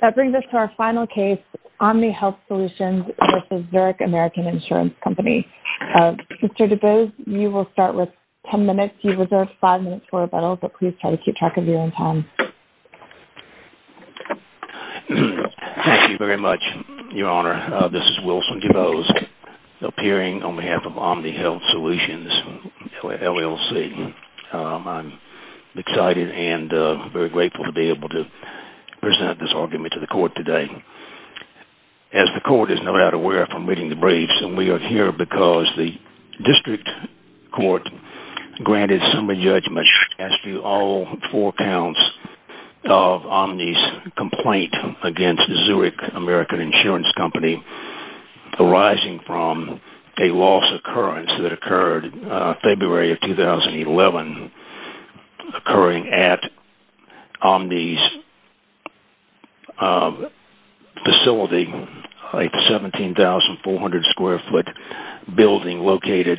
That brings us to our final case, Omni Health Solutions v. Zurich American Insurance Co. Mr. DuBose, you will start with 10 minutes. You've reserved 5 minutes for rebuttal, but please try to keep track of your own time. Thank you very much, Your Honor. This is Wilson DuBose, appearing on behalf of Omni Health Solutions, LLC. I'm excited and very grateful to be able to present this argument to the court today. As the court is no doubt aware from reading the briefs, and we are here because the district court granted summary judgment as to all four counts of Omni's complaint against Zurich American Insurance Co. arising from a loss occurrence that occurred in February of 2011 occurring at Omni's facility, a 17,400-square-foot building located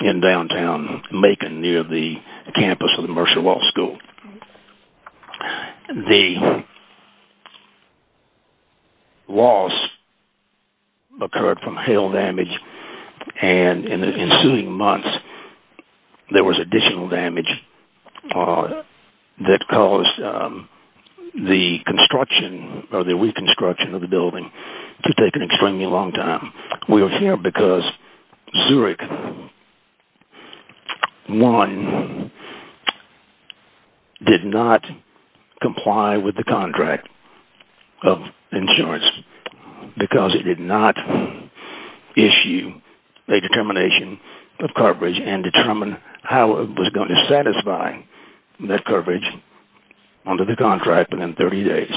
in downtown Macon near the campus of the Mercer Law School. The loss occurred from hail damage, and in the ensuing months, there was additional damage that caused the reconstruction of the building to take an extremely long time. We are here because Zurich 1 did not comply with the contract of insurance because it did not issue a determination of coverage and determine how it was going to satisfy that coverage under the contract within 30 days.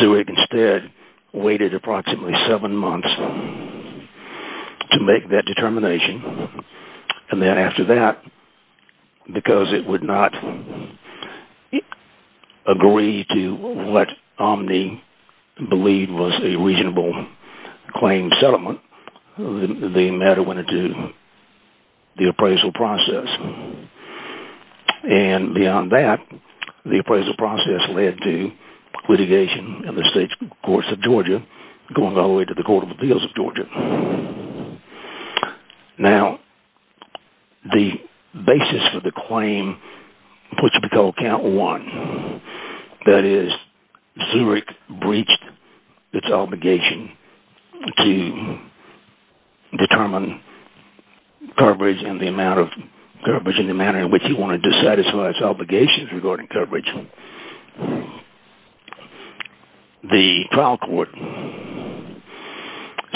Zurich instead waited approximately seven months to make that determination, and then after that, because it would not agree to what Omni believed was a reasonable claim settlement, the matter went into the appraisal process. And beyond that, the appraisal process led to litigation in the state courts of Georgia going all the way to the Court of Appeals of Georgia. Now, the basis for the claim, which we call Count 1, that is, Zurich breached its obligation to determine coverage and the amount of coverage in the manner in which it wanted to satisfy its obligations regarding coverage. The trial court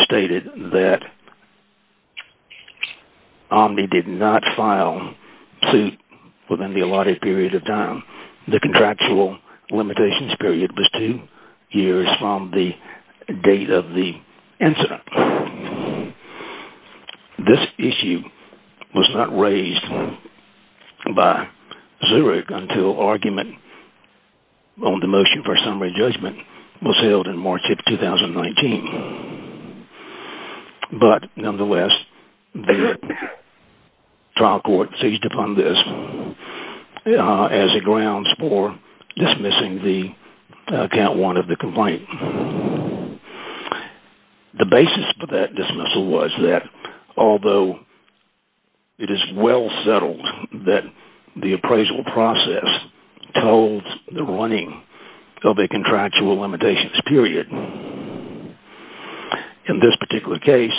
stated that Omni did not file suit within the allotted period of time. The contractual limitations period was two years from the date of the incident. This issue was not raised by Zurich until argument on the motion for summary judgment was held in March of 2019. But nonetheless, the trial court seized upon this as a grounds for dismissing the Count 1 of the complaint. The basis for that dismissal was that although it is well settled that the appraisal process told the running of the contractual limitations period, in this particular case,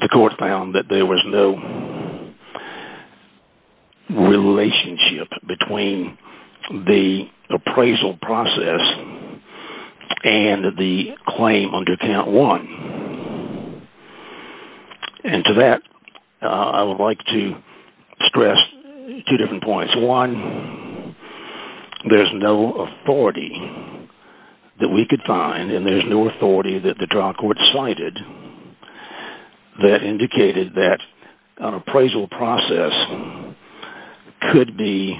the court found that there was no relationship between the appraisal process and the claim under Count 1. And to that, I would like to stress two different points. One, there is no authority that we could find, and there is no authority that the trial court cited that indicated that an appraisal process could be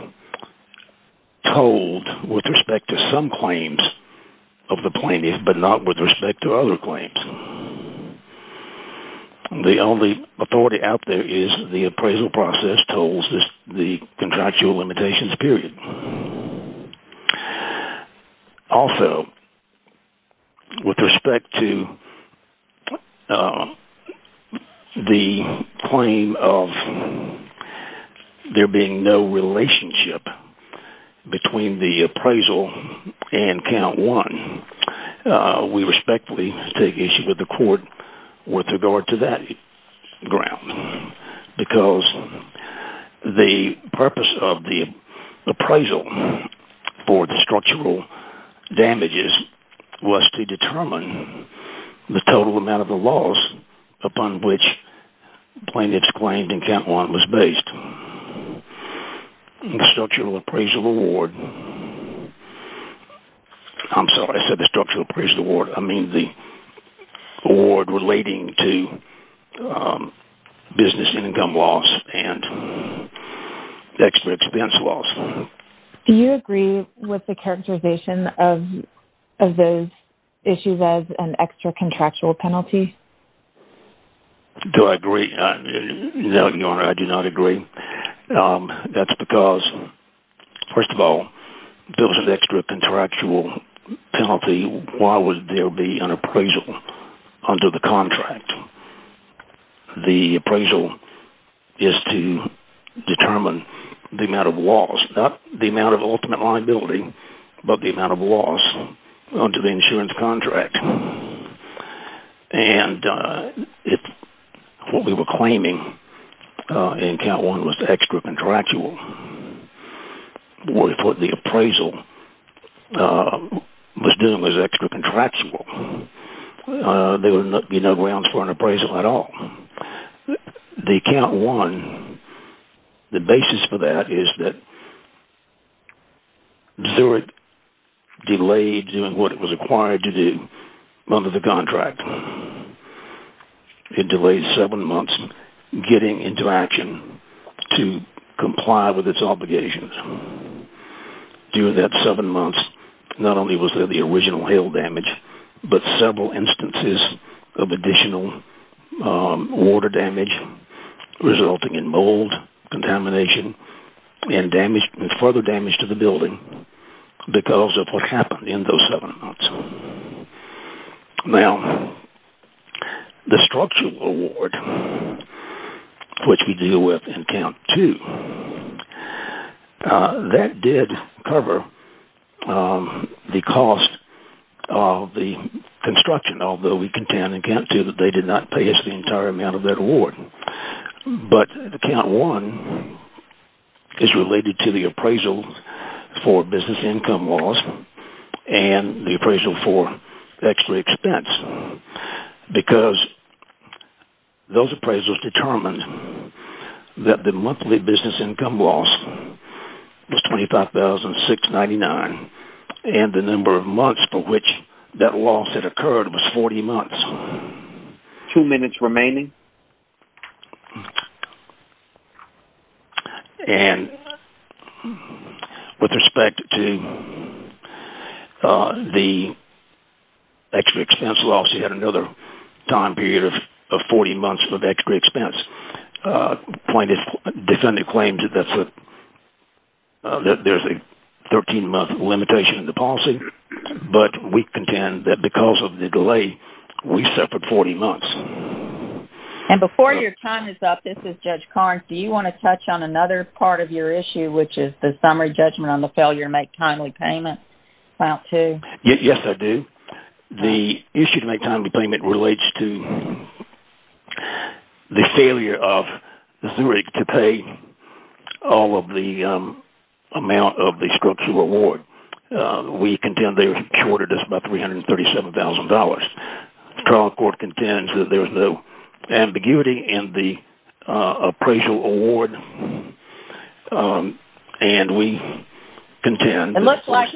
told with respect to some claims of the plaintiff, but not with respect to other claims. The only authority out there is the appraisal process told the contractual limitations period. Also, with respect to the claim of there being no relationship between the appraisal and Count 1, we respectfully take issue with the court with regard to that ground. Because the purpose of the appraisal for the structural damages was to determine the total amount of the loss upon which the plaintiff's claim in Count 1 was based. The structural appraisal award... I'm sorry, I said the structural appraisal award. I mean the award relating to business income loss and extra expense loss. Do you agree with the characterization of those issues as an extra contractual penalty? Do I agree? No, Your Honor, I do not agree. That's because, first of all, if there was an extra contractual penalty, why would there be an appraisal under the contract? The appraisal is to determine the amount of loss. Not the amount of ultimate liability, but the amount of loss under the insurance contract. And if what we were claiming in Count 1 was extra contractual, if what the appraisal was doing was extra contractual, there would be no grounds for an appraisal at all. The Count 1, the basis for that is that under the contract, it delays seven months getting into action to comply with its obligations. During that seven months, not only was there the original hail damage, but several instances of additional water damage resulting in mold, contamination, and further damage to the building because of what happened in those seven months. Now, the structural award, which we deal with in Count 2, that did cover the cost of the construction, although we contend in Count 2 that they did not pay us the entire amount of that award. But Count 1 is related to the appraisal for business income loss and the appraisal for extra expense because those appraisals determined that the monthly business income loss was $25,699 and the number of months for which that loss had occurred was 40 months. Two minutes remaining. Okay. And with respect to the extra expense loss, you had another time period of 40 months of extra expense. Defendant claims that there's a 13-month limitation in the policy, but we contend that because of the delay, we suffered 40 months. And before your time is up, this is Judge Carnes. Do you want to touch on another part of your issue, which is the summary judgment on the failure to make timely payment in Count 2? Yes, I do. The issue to make timely payment relates to the failure of Zurich to pay all of the amount of the structural award. We contend they were shorted us about $337,000. The trial court contends that there was no ambiguity in the appraisal award. And we contend... It looks like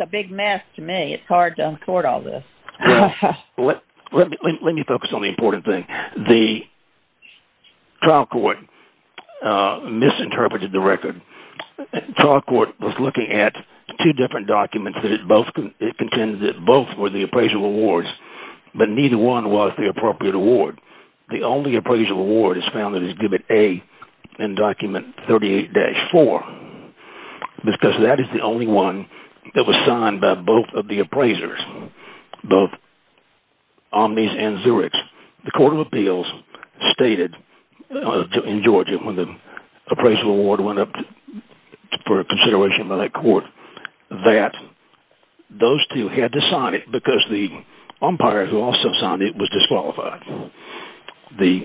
a big mess to me. It's hard to record all this. Let me focus on the important thing. The trial court misinterpreted the record. The trial court was looking at two different documents and it contends that both were the appraisal awards, but neither one was the appropriate award. The only appraisal award is found in his Givet A in Document 38-4, because that is the only one that was signed by both of the appraisers, both Omnys and Zurich. The Court of Appeals stated in Georgia, when the appraisal award went up for consideration by that court, that those two had to sign it because the umpire who also signed it was disqualified. The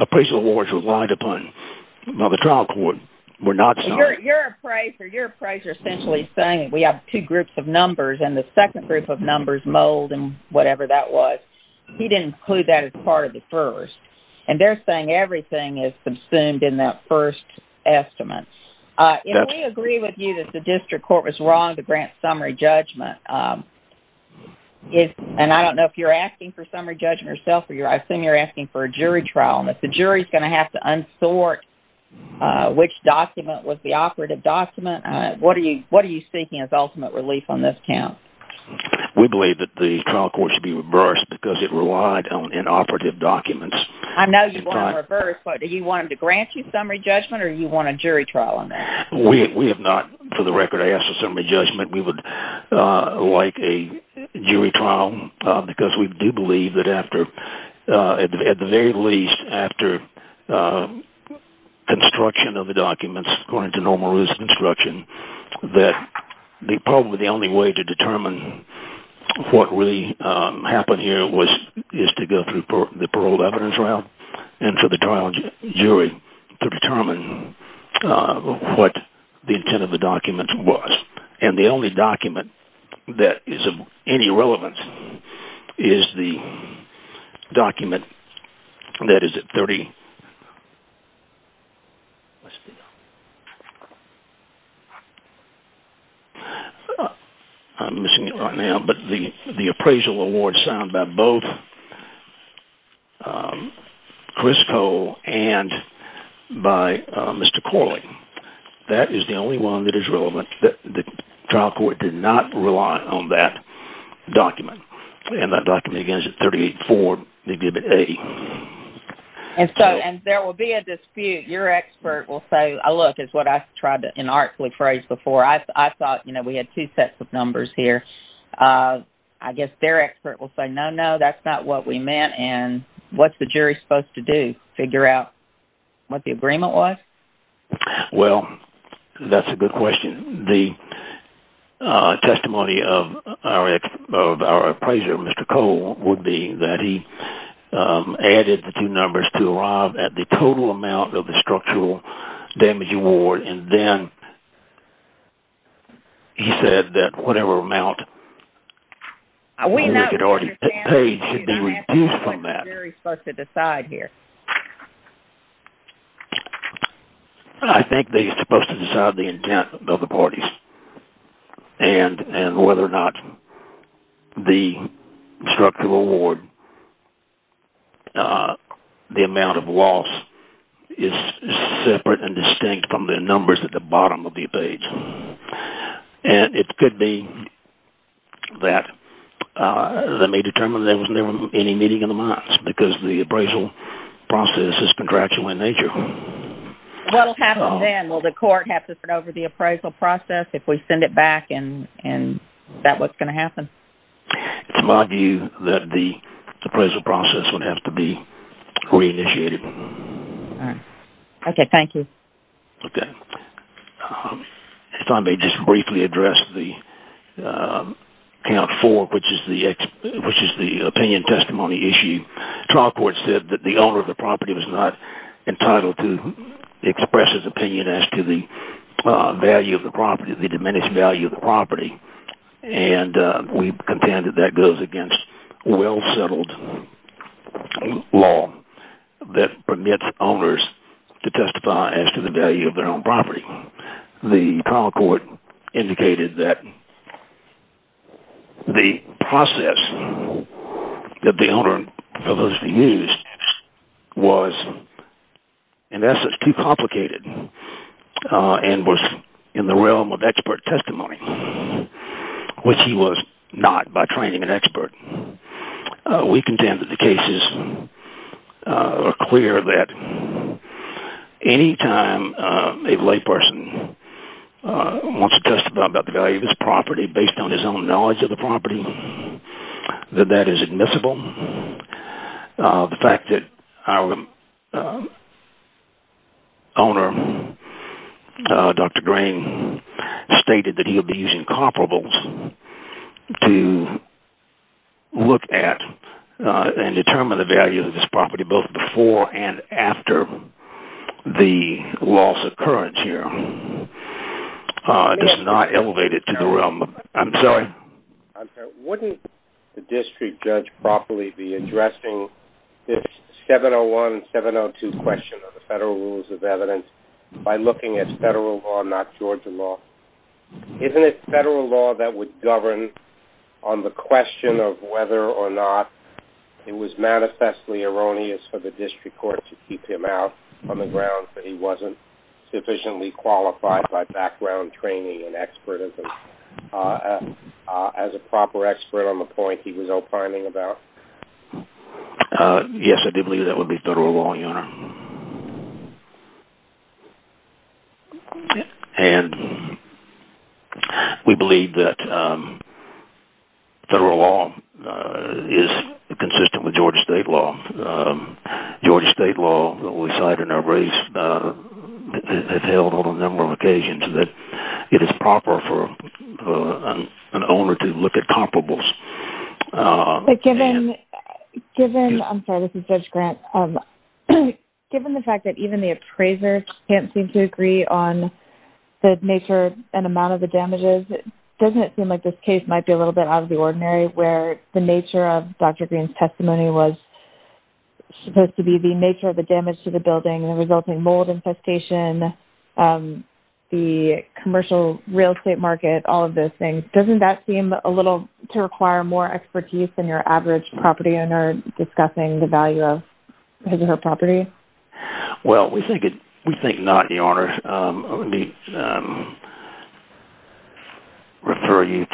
appraisal awards relied upon by the trial court were not signed. Your appraiser essentially is saying that we have two groups of numbers and the second group of numbers mold and whatever that was. He didn't include that as part of the first. And they're saying everything is consumed in that first estimate. If we agree with you that the district court was wrong to grant summary judgment, and I don't know if you're asking for summary judgment yourself, or I assume you're asking for a jury trial, and if the jury is going to have to unsort which document was the operative document, what are you seeking as ultimate relief on this count? We believe that the trial court should be reversed because it relied on inoperative documents. I know you want them reversed, but do you want them to grant you summary judgment or do you want a jury trial on that? We have not, for the record, asked for summary judgment. We would like a jury trial because we do believe that at the very least after construction of the documents, according to normal rules of construction, that probably the only way to determine what really happened here is to go through the paroled evidence round and for the trial jury to determine what the intent of the document was. And the only document that is of any relevance is the document that is at 30... I'm missing it right now, but the appraisal award signed by both Chris Cole and by Mr. Corley. That is the only one that is relevant. The trial court did not rely on that document. And that document, again, is at 38-4, maybe a bit 80. And so there will be a dispute. Your expert will say, look, it's what I tried to inartfully phrase before. I thought we had two sets of numbers here. I guess their expert will say, no, no, that's not what we meant, and what's the jury supposed to do, figure out what the agreement was? Well, that's a good question. The testimony of our appraiser, Mr. Cole, would be that he added the two numbers to arrive at the total amount of the structural damage award, and then he said that whatever amount we had already paid should be reduced from that. What's the jury supposed to decide here? I think they're supposed to decide the intent of the parties and whether or not the structural award, the amount of loss, is separate and distinct from the numbers at the bottom of the page. And it could be that they determine there was never any meeting in the months because the appraisal process is contractual in nature. What will happen then? Will the court have to turn over the appraisal process if we send it back and is that what's going to happen? It's my view that the appraisal process would have to be re-initiated. Okay, thank you. Okay. If I may just briefly address the count four, which is the opinion testimony issue. Trial court said that the owner of the property was not entitled to express his opinion as to the value of the property, the diminished value of the property, and we contend that that goes against well-settled law that permits owners to testify as to the value of their own property. The trial court indicated that the process that the owner proposed to use was in essence too complicated and was in the realm of expert testimony, which he was not by training an expert. We contend that the cases are clear that any time a layperson wants to testify about the value of his property based on his own knowledge of the property, that that is admissible. The fact that our owner, Dr. Grain, stated that he would be using comparables to look at and determine the value of this property both before and after the loss occurrence here does not elevate it to the realm of... I'm sorry? I'm sorry. Wouldn't the district judge properly be addressing this 701 and 702 question of the federal rules of evidence by looking at federal law, not Georgia law? Isn't it federal law that would govern on the question of whether or not it was manifestly erroneous for the district court to keep him out on the ground that he wasn't sufficiently qualified by background training and expertism as a proper expert on the point he was opining about? Yes, I do believe that would be federal law, Your Honor. And we believe that federal law is consistent with Georgia state law. Georgia state law that we cite in our briefs has held on a number of occasions that it is proper for an owner to look at comparables. Given the fact that even the appraiser can't seem to agree on the nature and amount of the damages, doesn't it seem like this case might be a little bit out of the ordinary where the nature of Dr. Green's testimony was supposed to be the nature of the damage to the building and the resulting mold infestation, the commercial real estate market, all of those things, doesn't that seem a little to require more expertise than your average property owner discussing the value of his or her property? Well, we think not, Your Honor. Let me refer you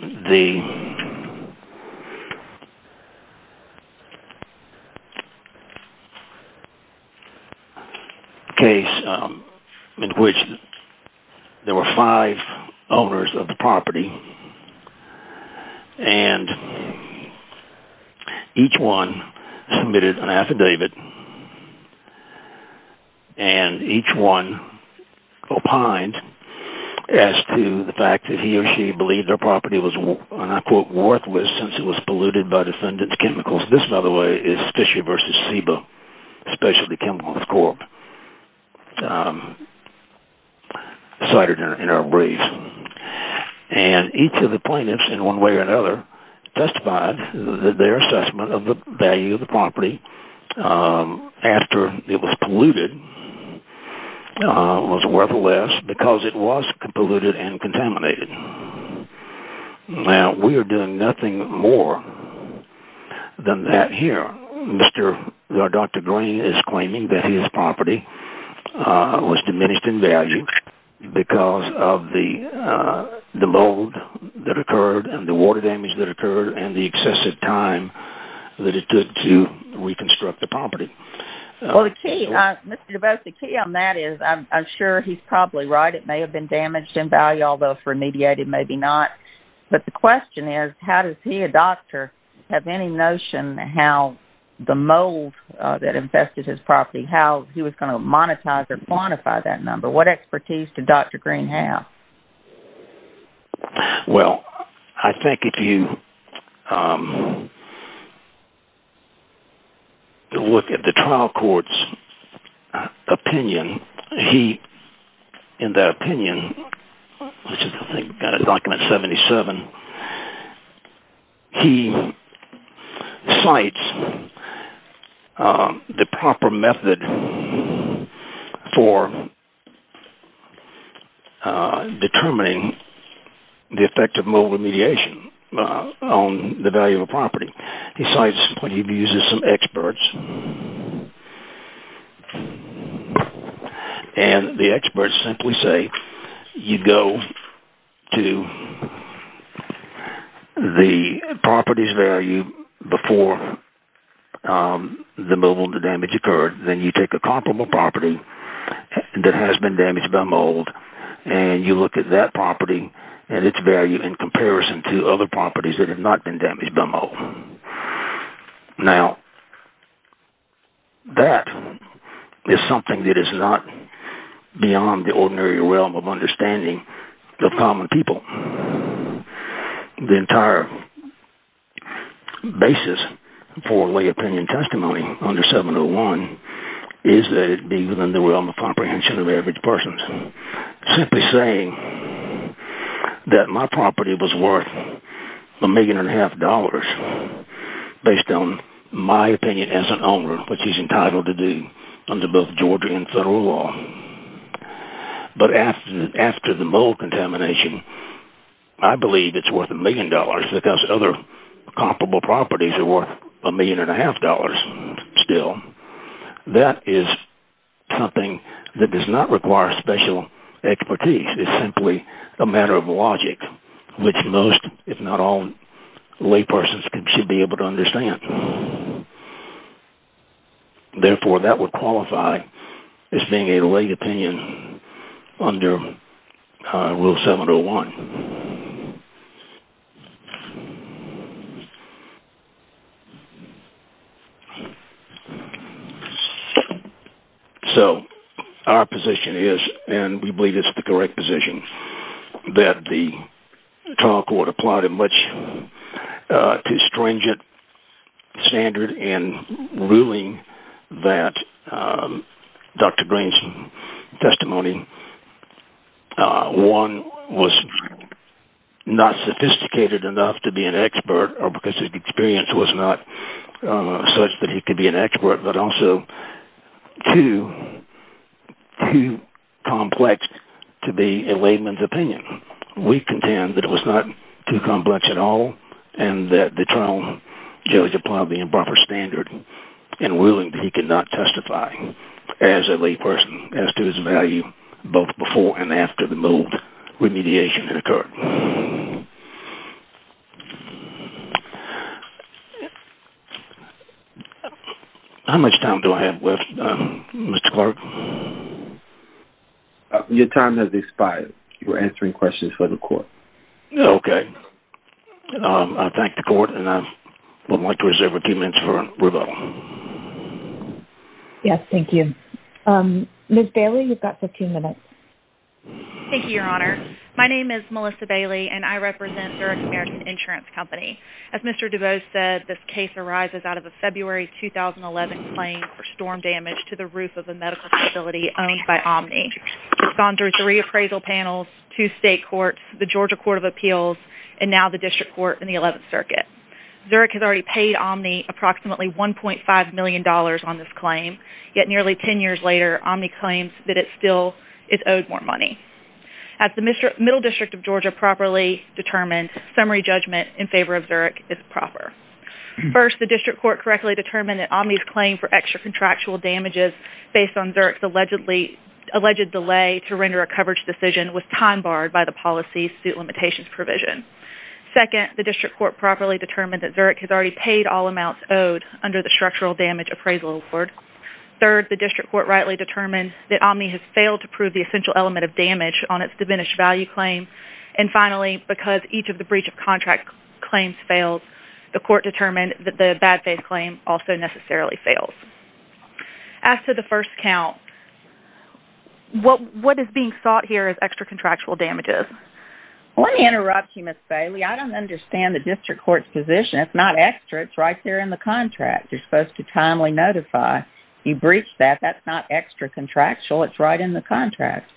to the case in which there were five owners of the property and each one submitted an affidavit and each one opined as to the fact that he or she believed their property was, and I quote, worthless since it was polluted by the defendant's chemicals. This, by the way, is Fisher v. Sebo, Specialty Chemicals Corp. cited in our briefs. And each of the plaintiffs, in one way or another, testified that their assessment of the value of the property after it was polluted was worthless because it was polluted and contaminated. Now, we are doing nothing more than that here. Dr. Green is claiming that his property was diminished in value because of the mold that occurred and the water damage that occurred and the excessive time that it took to reconstruct the property. Well, Mr. DeBose, the key on that is, I'm sure he's probably right, it may have been damaged in value, although if remediated, maybe not. But the question is, how does he, a doctor, have any notion how the mold that infested his property, how he was going to monetize or quantify that number? What expertise does Dr. Green have? Well, I think if you look at the trial court's opinion, he, in that opinion, which is, I think, document 77, he cites the proper method for determining the effect of mold remediation on the value of a property. He cites what he views as some experts. And the experts simply say, you go to the property's value before the mold damage occurred, then you take a comparable property that has been damaged by mold and you look at that property and its value in comparison to other properties that have not been damaged by mold. Now, that is something that is not beyond the ordinary realm of understanding of common people. The entire basis for lay opinion testimony under 701 is that it be within the realm of comprehension of average persons. Simply saying that my property was worth a million and a half dollars based on my opinion as an owner, which he's entitled to do under both Georgia and federal law. But after the mold contamination, I believe it's worth a million dollars because other comparable properties are worth a million and a half dollars still. That is something that does not require special expertise. It's simply a matter of logic, which most, if not all, lay persons should be able to understand. Therefore, that would qualify as being a lay opinion under Rule 701. So, our position is, and we believe it's the correct position, that the trial court applied a much too stringent standard in ruling that Dr. Green's testimony, one, was not sophisticated enough to be an expert because his experience was not such that he could be an expert, but also too complex to be a layman's opinion. We contend that it was not too complex at all, and that the trial judge applied the improper standard in ruling that he could not testify as a lay person as to his value both before and after the mold remediation had occurred. How much time do I have left, Mr. Clerk? Your time has expired. You were answering questions for the court. Okay. I thank the court, and I would like to reserve a few minutes for rebuttal. Yes, thank you. Ms. Bailey, you've got 15 minutes. Thank you, Your Honor. My name is Melissa Bailey, and I represent Zurich American Insurance Company. As Mr. Dubose said, this case arises out of a February 2011 claim for storm damage to the roof of a medical facility owned by Omni. It's gone through three appraisal panels, two state courts, the Georgia Court of Appeals, and now the District Court in the 11th Circuit. Zurich has already paid Omni approximately $1.5 million on this claim, yet nearly 10 years later, Omni claims that it still is owed more money. Has the Middle District of Georgia properly determined that Omni's summary judgment in favor of Zurich is proper? First, the District Court correctly determined that Omni's claim for extra contractual damages based on Zurich's alleged delay to render a coverage decision was time barred by the policy's suit limitations provision. Second, the District Court properly determined that Zurich has already paid all amounts owed under the Structural Damage Appraisal Accord. Third, the District Court rightly determined that Omni has failed to prove the essential element of damage on its diminished value claim. And finally, because each of the breach of contract claims fails, the court determined that the bad faith claim also necessarily fails. As to the first count, what is being sought here is extra contractual damages. Let me interrupt you, Ms. Bailey. I don't understand the District Court's position. It's not extra. It's right there in the contract. You're supposed to timely notify. You breached that. That's not extra contractual. It's right in the contract.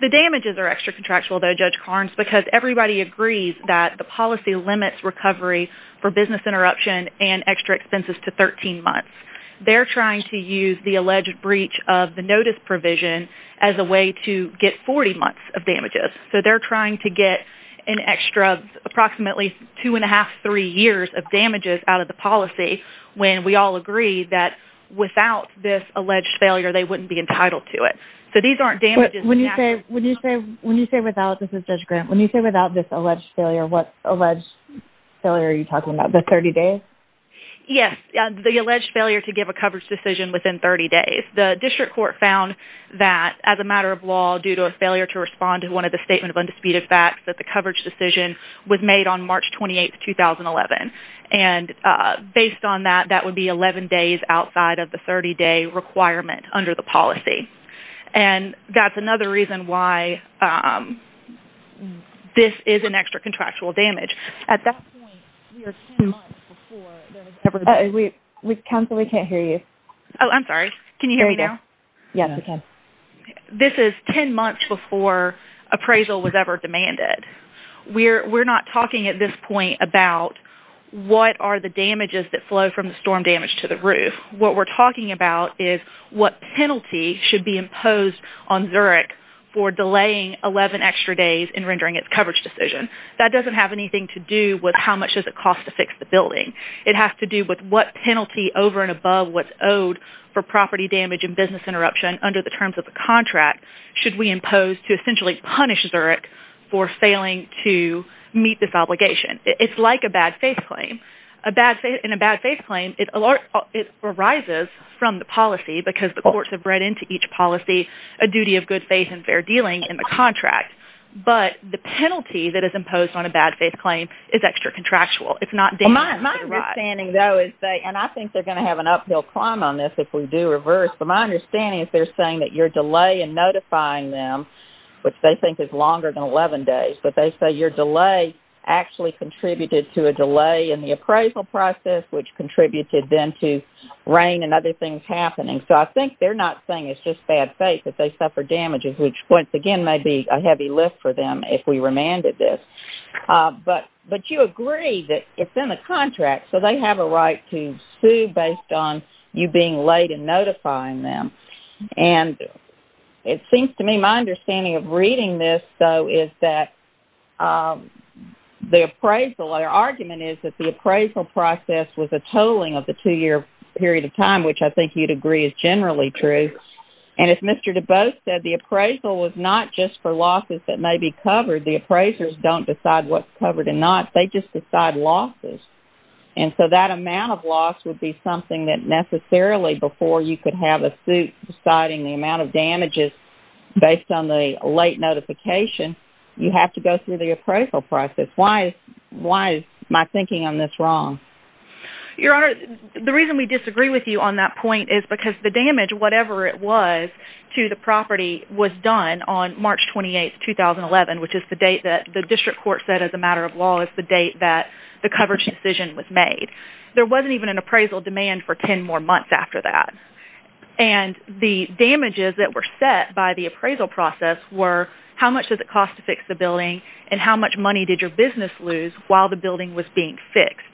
The damages are extra contractual, though, Judge Carnes, because everybody agrees that the policy limits recovery for business interruption and extra expenses to 13 months. They're trying to use the alleged breach of the notice provision as a way to get 40 months of damages. So they're trying to get an extra approximately 2½, 3 years of damages out of the policy when we all agree that without this alleged failure, they wouldn't be entitled to it. When you say without, this is Judge Grant, when you say without this alleged failure, what alleged failure are you talking about, the 30 days? Yes, the alleged failure to give a coverage decision within 30 days. The District Court found that, as a matter of law, due to a failure to respond to one of the Statement of Undisputed Facts, that the coverage decision was made on March 28, 2011. And based on that, that would be 11 days outside of the 30-day requirement under the policy. And that's another reason why this is an extra contractual damage. This is 10 months before appraisal was ever demanded. We're not talking at this point about what are the damages that flow from the storm damage to the roof. What we're talking about is what penalty should be imposed on Zurich for delaying 11 extra days in rendering its coverage decision. That doesn't have anything to do with how much does it cost to fix the building. It has to do with what penalty over and above what's owed for property damage and business interruption under the terms of the contract should we impose to essentially punish Zurich for failing to meet this obligation. It's like a bad faith claim. In a bad faith claim, it arises from the policy because the courts have read into each policy a duty of good faith and fair dealing in the contract. But the penalty that is imposed on a bad faith claim is extra contractual. It's not damages that arise. And I think they're going to have an uphill climb on this if we do reverse. But my understanding is they're saying that your delay in notifying them, which they think is longer than 11 days, but they say your delay actually contributed to a delay in the appraisal process, which contributed then to rain and other things happening. So I think they're not saying it's just bad faith that they suffer damages, which, once again, may be a heavy lift for them if we remanded this. But you agree that it's in the contract, so they have a right to sue based on you being late in notifying them. And it seems to me my understanding of reading this, though, is that the appraisal, their argument is that the appraisal process was a tolling of the 2-year period of time, which I think you'd agree is generally true. And as Mr. Dubose said, the appraisal was not just for losses that may be covered. The appraisers don't decide what's covered and not. They just decide losses. And so that amount of loss would be something that necessarily, before you could have a suit deciding the amount of damages based on the late notification, you have to go through the appraisal process. Why is my thinking on this wrong? Your Honor, the reason we disagree with you on that point is because the damage, whatever it was, to the property, was done on March 28, 2011, which is the date that the district court said as a matter of law is the date that the coverage decision was made. There wasn't even an appraisal demand for 10 more months after that. And the damages that were set by the appraisal process were how much did it cost to fix the building and how much money did your business lose while the building was being fixed.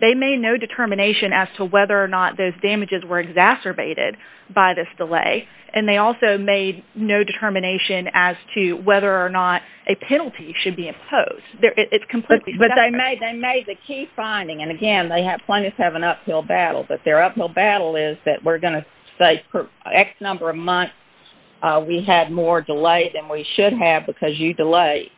They made no determination as to whether or not those damages were exacerbated by this delay, and they also made no determination as to whether or not a penalty should be imposed. It's completely separate. But they made the key finding, and again, plaintiffs have an uphill battle, but their uphill battle is that we're going to say for X number of months we had more delay than we should have because you delayed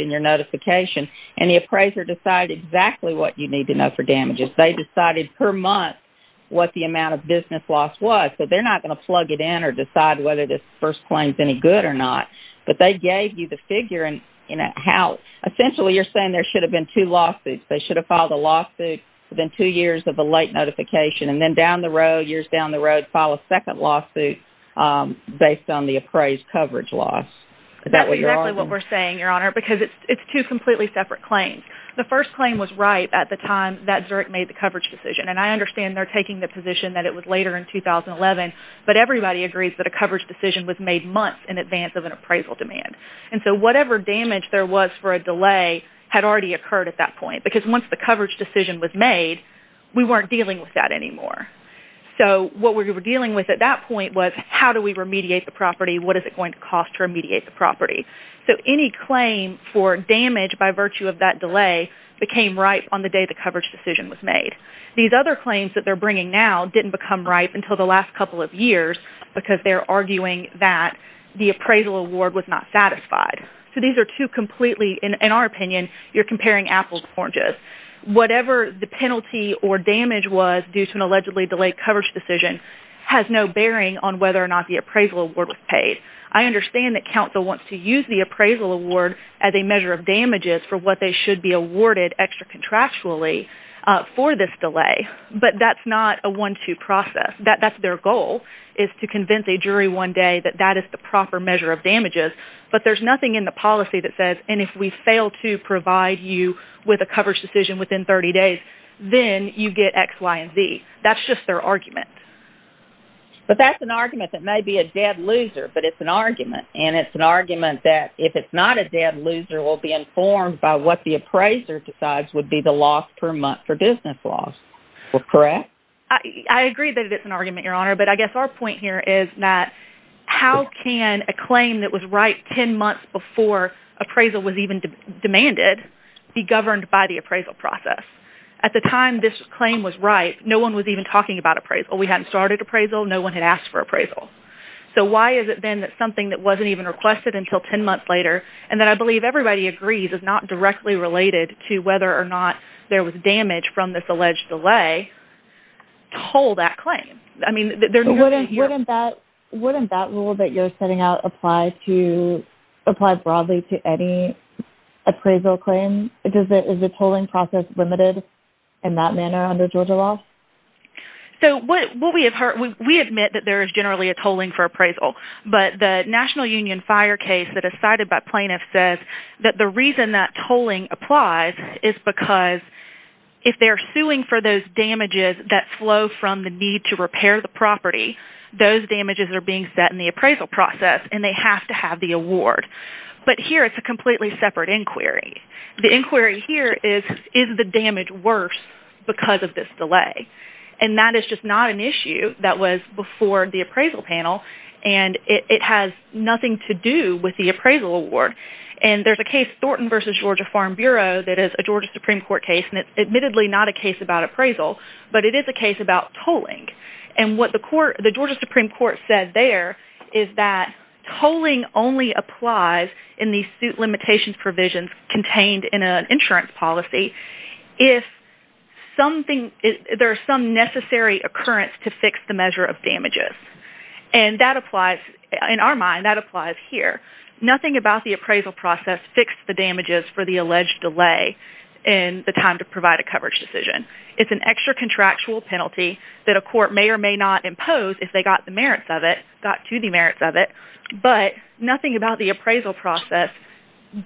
in your notification, and the appraiser decided exactly what you need to know for damages. They decided per month what the amount of business loss was. So they're not going to plug it in or decide whether this first claim is any good or not, but they gave you the figure and how. Essentially, you're saying there should have been two lawsuits. They should have filed a lawsuit within two years of the late notification, and then down the road, years down the road, file a second lawsuit based on the appraised coverage loss. Is that what you're arguing? That's exactly what we're saying, Your Honor, because it's two completely separate claims. The first claim was right at the time that Zurich made the coverage decision, and I understand they're taking the position that it was later in 2011, but everybody agrees that a coverage decision was made months in advance of an appraisal demand. And so whatever damage there was for a delay had already occurred at that point because once the coverage decision was made, we weren't dealing with that anymore. So what we were dealing with at that point was how do we remediate the property? What is it going to cost to remediate the property? So any claim for damage by virtue of that delay became ripe on the day the coverage decision was made. These other claims that they're bringing now didn't become ripe until the last couple of years because they're arguing that the appraisal award was not satisfied. So these are two completely, in our opinion, you're comparing apples to oranges. Whatever the penalty or damage was due to an allegedly delayed coverage decision has no bearing on whether or not the appraisal award was paid. I understand that counsel wants to use the appraisal award as a measure of damages for what they should be awarded extra contractually for this delay, but that's not a one-two process. That's their goal, is to convince a jury one day that that is the proper measure of damages, but there's nothing in the policy that says, and if we fail to provide you with a coverage decision within 30 days, then you get X, Y, and Z. That's just their argument. But that's an argument that may be a dead loser, but it's an argument, and it's an argument that if it's not a dead loser, we'll be informed by what the appraiser decides would be the loss per month for business loss. Correct? I agree that it's an argument, Your Honor, but I guess our point here is that how can a claim that was ripe 10 months before appraisal was even demanded be governed by the appraisal process? At the time this claim was ripe, no-one was even talking about appraisal. We hadn't started appraisal, no-one had asked for appraisal. So why is it, then, that something that wasn't even requested until 10 months later, and that I believe everybody agrees is not directly related to whether or not there was damage from this alleged delay, to hold that claim? I mean... Wouldn't that rule that you're setting out apply broadly to any appraisal claim? Is the tolling process limited in that manner under Georgia law? So what we have heard... We admit that there is generally a tolling for appraisal, but the National Union Fire case that is cited by plaintiffs says that the reason that tolling applies is because if they're suing for those damages that flow from the need to repair the property, those damages are being set in the appraisal process, and they have to have the award. But here it's a completely separate inquiry. The inquiry here is, is the damage worse because of this delay? And that is just not an issue that was before the appraisal panel, and it has nothing to do with the appraisal award. And there's a case, Thornton v. Georgia Farm Bureau, that is a Georgia Supreme Court case, and it's admittedly not a case about appraisal, but it is a case about tolling. And what the Georgia Supreme Court said there is that tolling only applies in the suit limitations provisions contained in an insurance policy if there's some necessary occurrence to fix the measure of damages. And that applies... In our mind, that applies here. Nothing about the appraisal process fixed the damages for the alleged delay in the time to provide a coverage decision. It's an extra contractual penalty that a court may or may not impose if they got the merits of it, got to the merits of it. But nothing about the appraisal process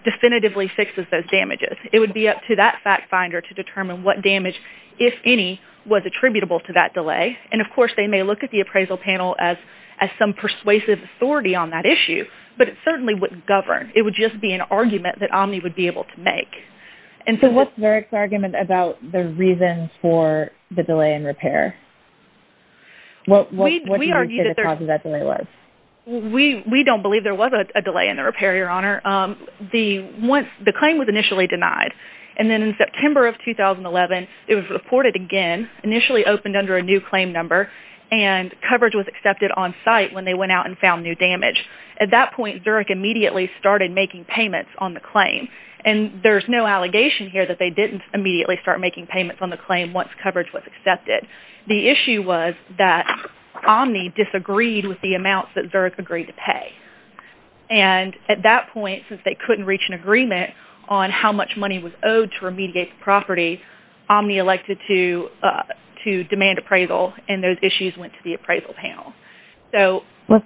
definitively fixes those damages. It would be up to that fact finder to determine what damage, if any, was attributable to that delay. And, of course, they may look at the appraisal panel as some persuasive authority on that issue, but it certainly wouldn't govern. It would just be an argument that Omni would be able to make. And so what's Varick's argument about the reasons for the delay in repair? What did you say the cause of that delay was? We don't believe there was a delay in the repair, Your Honor. The claim was initially denied. And then in September of 2011, it was reported again, initially opened under a new claim number, and coverage was accepted on site when they went out and found new damage. At that point, Varick immediately started making payments on the claim. And there's no allegation here that they didn't immediately start making payments on the claim once coverage was accepted. The issue was that Omni disagreed with the amounts that Varick agreed to pay. And at that point, since they couldn't reach an agreement on how much money was owed to remediate the property, Omni elected to demand appraisal, and those issues went to the appraisal panel. Was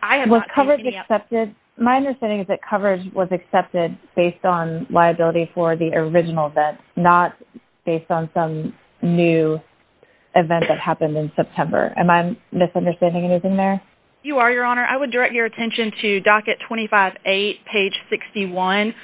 coverage accepted? My understanding is that coverage was accepted based on liability for the original event, not based on some new event that happened in September. Am I misunderstanding anything there? You are, Your Honor. I would direct your attention to docket 25A, page 61.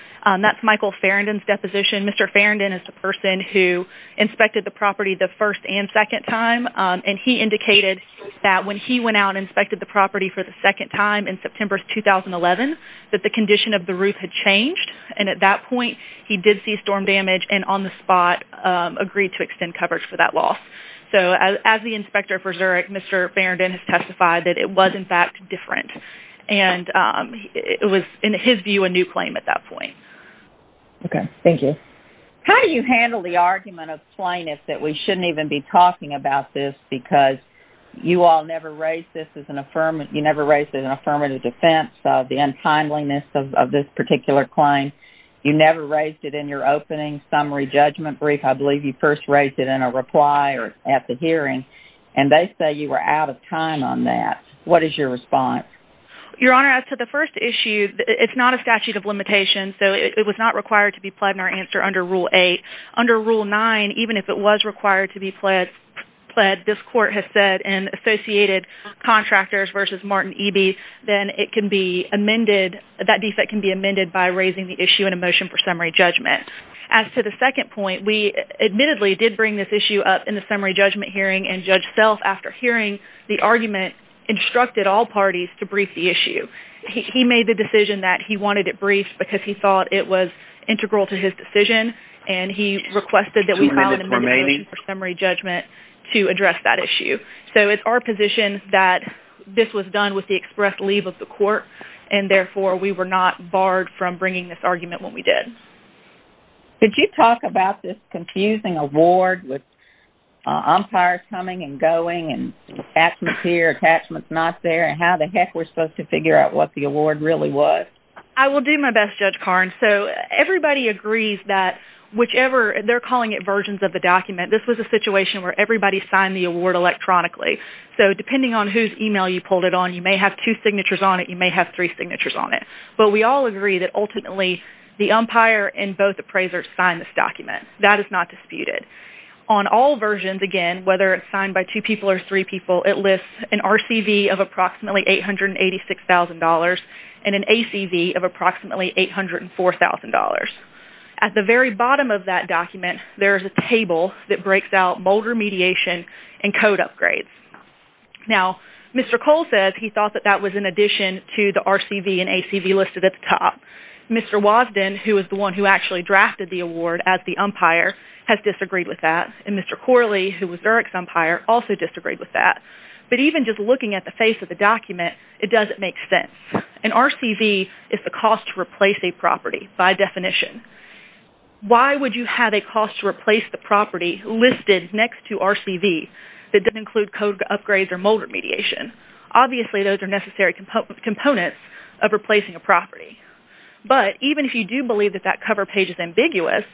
That's Michael Farrandon's deposition. Mr. Farrandon is the person who inspected the property the first and second time, and he indicated that when he went out and inspected the property for the second time in September 2011, that the condition of the roof had changed. And at that point, he did see storm damage, and on the spot agreed to extend coverage for that loss. So as the inspector for Zurich, Mr. Farrandon has testified that it was, in fact, different. And it was, in his view, a new claim at that point. Okay. Thank you. How do you handle the argument of plainness that we shouldn't even be talking about this because you all never raised this as an affirmative defense, the untimeliness of this particular claim, you never raised it in your opening summary judgment brief, I believe you first raised it in a reply or at the hearing, and they say you were out of time on that. What is your response? Your Honor, as to the first issue, it's not a statute of limitations, so it was not required to be pled in our answer under Rule 8. Under Rule 9, even if it was required to be pled, this court has said in Associated Contractors v. Martin Eby, then it can be amended, that defect can be amended by raising the issue in a motion for summary judgment. As to the second point, we admittedly did bring this issue up in the summary judgment hearing, and Judge Self, after hearing the argument, instructed all parties to brief the issue. He made the decision that he wanted it briefed because he thought it was integral to his decision, and he requested that we file an amendment for summary judgment to address that issue. So it's our position that this was done with the express leave of the court, and therefore we were not barred from bringing this argument when we did. Could you talk about this confusing award with umpires coming and going and attachments here, attachments not there, and how the heck we're supposed to figure out what the award really was? I will do my best, Judge Karnes. So everybody agrees that whichever, they're calling it versions of the document, this was a situation where everybody signed the award electronically. So depending on whose email you pulled it on, you may have two signatures on it, you may have three signatures on it. But we all agree that ultimately the umpire and both appraisers signed this document. That is not disputed. On all versions, again, whether it's signed by two people or three people, it lists an RCV of approximately $886,000 and an ACV of approximately $804,000. At the very bottom of that document, there's a table that breaks out boulder mediation and code upgrades. Now, Mr. Cole says he thought that that was in addition to the RCV and ACV listed at the top. Mr. Wosden, who is the one who actually drafted the award as the umpire, has disagreed with that. And Mr. Corley, who was Dirk's umpire, also disagreed with that. But even just looking at the face of the document, it doesn't make sense. An RCV is the cost to replace a property, by definition. Why would you have a cost to replace the property listed next to RCV that doesn't include code upgrades or boulder mediation? Obviously, those are necessary components of replacing a property. But even if you do believe that that cover page is ambiguous,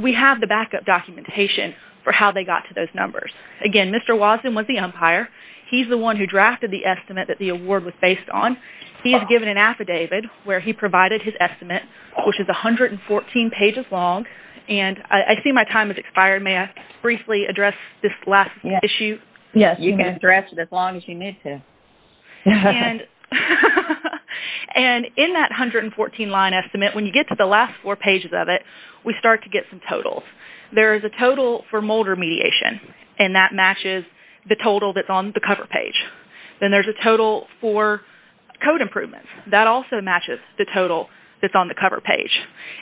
we have the backup documentation for how they got to those numbers. Again, Mr. Wosden was the umpire. He's the one who drafted the estimate that the award was based on. He is given an affidavit where he provided his estimate, which is 114 pages long. And I see my time has expired. May I briefly address this last issue? Yes, you can address it as long as you need to. And in that 114 line estimate, when you get to the last four pages of it, we start to get some totals. There is a total for boulder mediation, and that matches the total that's on the cover page. Then there's a total for code improvements. That also matches the total that's on the cover page.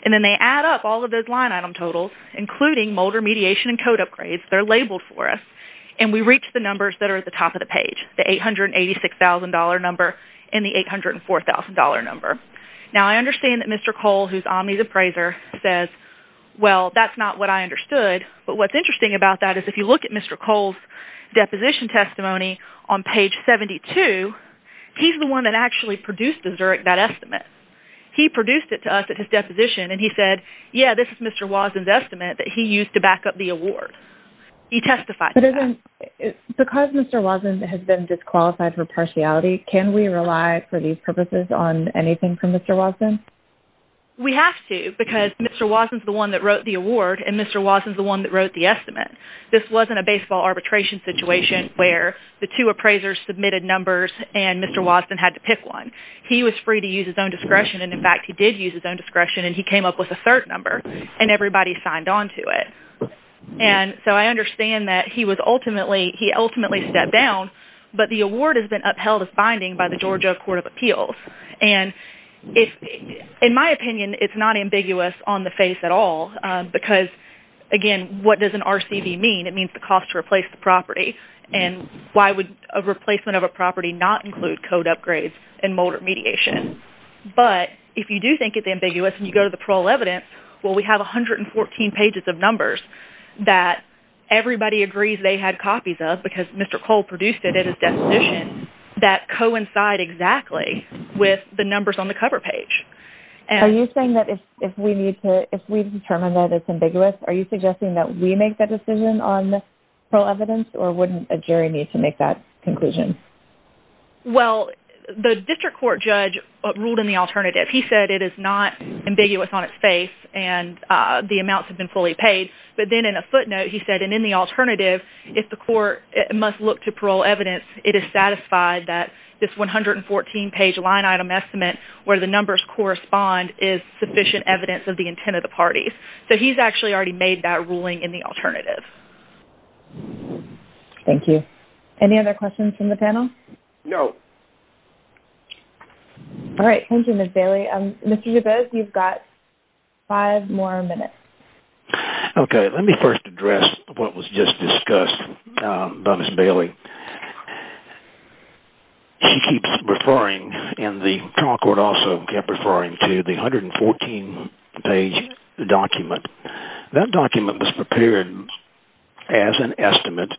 And then they add up all of those line item totals, including boulder mediation and code upgrades. They're labeled for us. And we reach the numbers that are at the top of the page, the $886,000 number and the $804,000 number. Now, I understand that Mr. Cole, who's Omni's appraiser, says, well, that's not what I understood. But what's interesting about that is, if you look at Mr. Cole's deposition testimony on page 72, he's the one that actually produced that estimate. He produced it to us at his deposition, and he said, yeah, this is Mr. Wosden's estimate that he used to back up the award. He testified to that. Because Mr. Wosden has been disqualified for partiality, can we rely for these purposes on anything from Mr. Wosden? We have to, because Mr. Wosden's the one that wrote the award, and Mr. Wosden's the one that wrote the estimate. This wasn't a baseball arbitration situation where the two appraisers submitted numbers and Mr. Wosden had to pick one. He was free to use his own discretion, and, in fact, he did use his own discretion, and he came up with a third number, and everybody signed on to it. And so I understand that he ultimately stepped down, but the award has been upheld as binding by the Georgia Court of Appeals. And in my opinion, it's not ambiguous on the face at all, because, again, what does an RCV mean? It means the cost to replace the property. And why would a replacement of a property not include code upgrades and motor mediation? But if you do think it's ambiguous and you go to the parole evidence, well, we have 114 pages of numbers that everybody agrees they had copies of because Mr. Cole produced it at his destination that coincide exactly with the numbers on the cover page. Are you saying that if we need to, if we've determined that it's ambiguous, are you suggesting that we make that decision on the parole evidence, or wouldn't a jury need to make that conclusion? Well, the district court judge ruled in the alternative. He said it is not ambiguous on its face and the amounts have been fully paid, but then in a footnote he said, and in the alternative, if the court must look to parole evidence, it is satisfied that this 114-page line-item estimate where the numbers correspond is sufficient evidence of the intent of the parties. So he's actually already made that ruling in the alternative. Thank you. Any other questions from the panel? No. All right. Thank you, Ms. Bailey. Mr. DeBose, you've got five more minutes. Okay. Let me first address what was just discussed by Ms. Bailey. She keeps referring, and the trial court also kept referring to the 114-page document. That document was prepared as an estimate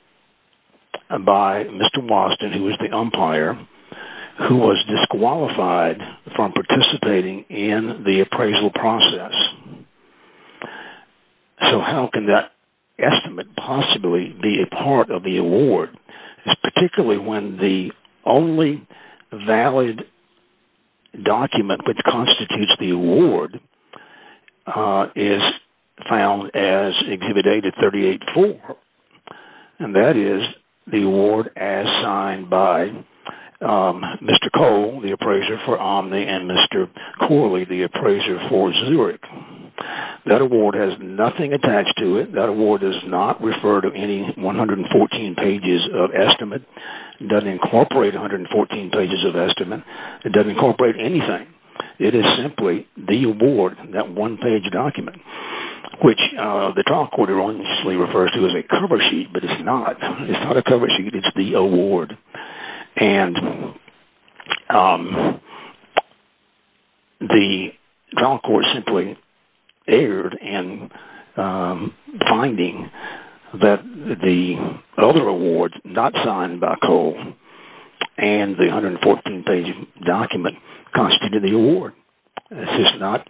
by Mr. Boston, who was the umpire, who was disqualified from participating in the appraisal process. So how can that estimate possibly be a part of the award, particularly when the only valid document which constitutes the award is found as Exhibit A to 38-4? And that is the award as signed by Mr. Cole, the appraiser for Omni, and Mr. Corley, the appraiser for Zurich. That award has nothing attached to it. That award does not refer to any 114 pages of estimate. It doesn't incorporate 114 pages of estimate. It doesn't incorporate anything. It is simply the award, that one-page document, which the trial court erroneously refers to as a cover sheet, but it's not. It's not a cover sheet. It's the award. The trial court simply erred in finding that the other award not signed by Cole and the 114-page document constituted the award. This is not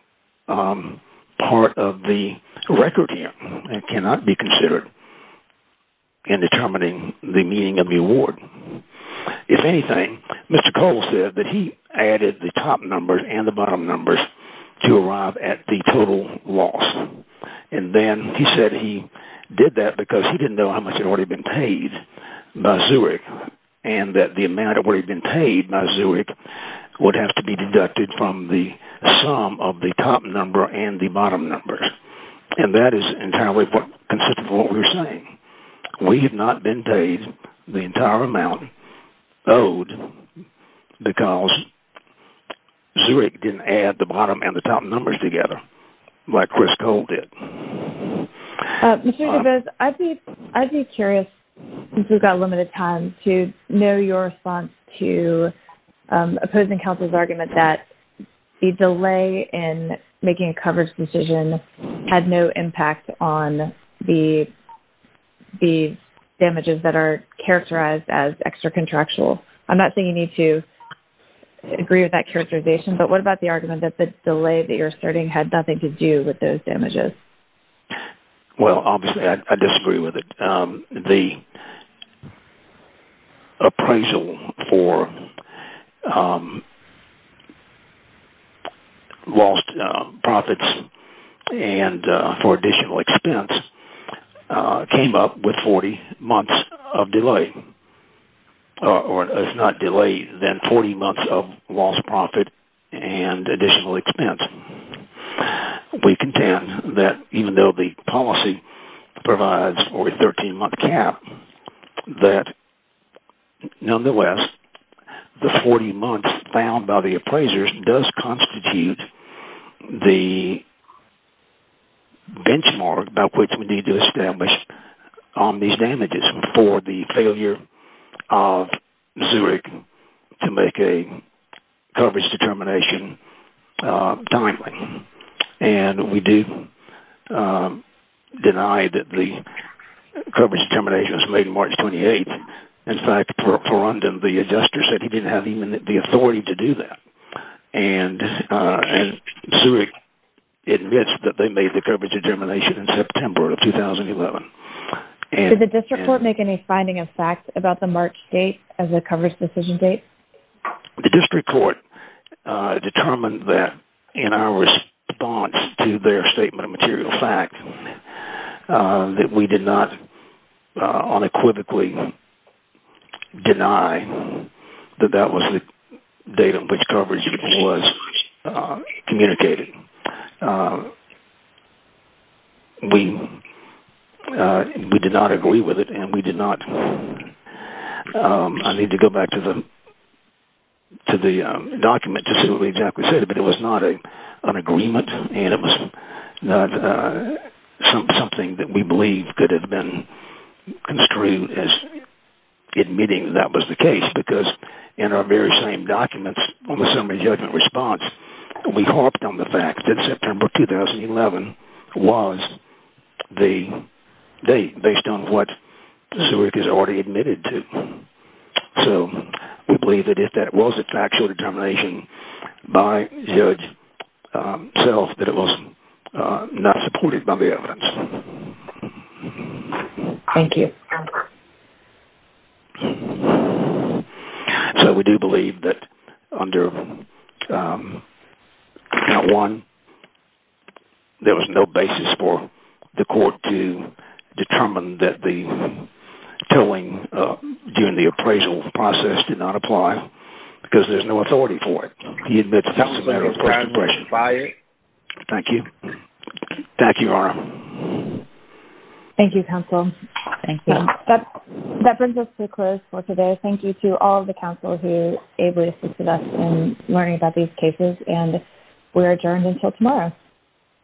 part of the record here and cannot be considered in determining the meaning of the award. If anything, Mr. Cole said that he added the top numbers and the bottom numbers to arrive at the total loss. And then he said he did that because he didn't know how much had already been paid by Zurich and that the amount that had already been paid by Zurich would have to be deducted from the sum of the top number and the bottom number. And that is entirely consistent with what we're saying. We have not been paid the entire amount owed because Zurich didn't add the bottom and the top numbers together like Chris Cole did. I'd be curious, since we've got limited time, to know your response to opposing counsel's argument that the delay in making a coverage decision had no impact on the damages that are characterized as extra-contractual. I'm not saying you need to agree with that characterization, but what about the argument that the delay that you're asserting had nothing to do with those damages? Well, obviously I disagree with it. The appraisal for lost profits and for additional expense came up with 40 months of delay. It's not delay, then 40 months of lost profit and additional expense. We contend that even though the policy provides for a 13-month cap, that nonetheless, the 40 months found by the appraisers does constitute the benchmark by which we need to establish on these damages for the failure of Zurich to make a coverage determination timely. And we do deny that the coverage determination was made on March 28th. In fact, Perundum, the adjuster, said he didn't have even the authority to do that. And Zurich admits that they made the coverage determination in September of 2011. Did the district court make any finding of facts about the March date as the coverage decision date? The district court determined that in our response to their statement of material fact that we did not unequivocally deny that that was the date on which coverage was communicated. We did not agree with it and we did not... I need to go back to the document to see what we exactly said, but it was not an agreement and it was not something that we believe could have been construed as admitting that was the case because in our very same documents on the summary judgment response, we harped on the fact that September 2011 was the date based on what Zurich has already admitted to. So we believe that if that was the factual determination by Zurich itself, that it was not supported by the evidence. Thank you. So we do believe that under count one, there was no basis for the court to determine that the tolling during the appraisal process did not apply because there's no authority for it. Thank you. Thank you, Your Honor. Thank you, counsel. Thank you. That brings us to a close for today. Thank you to all the counsel who were able to assist us in learning about these cases and we're adjourned until tomorrow.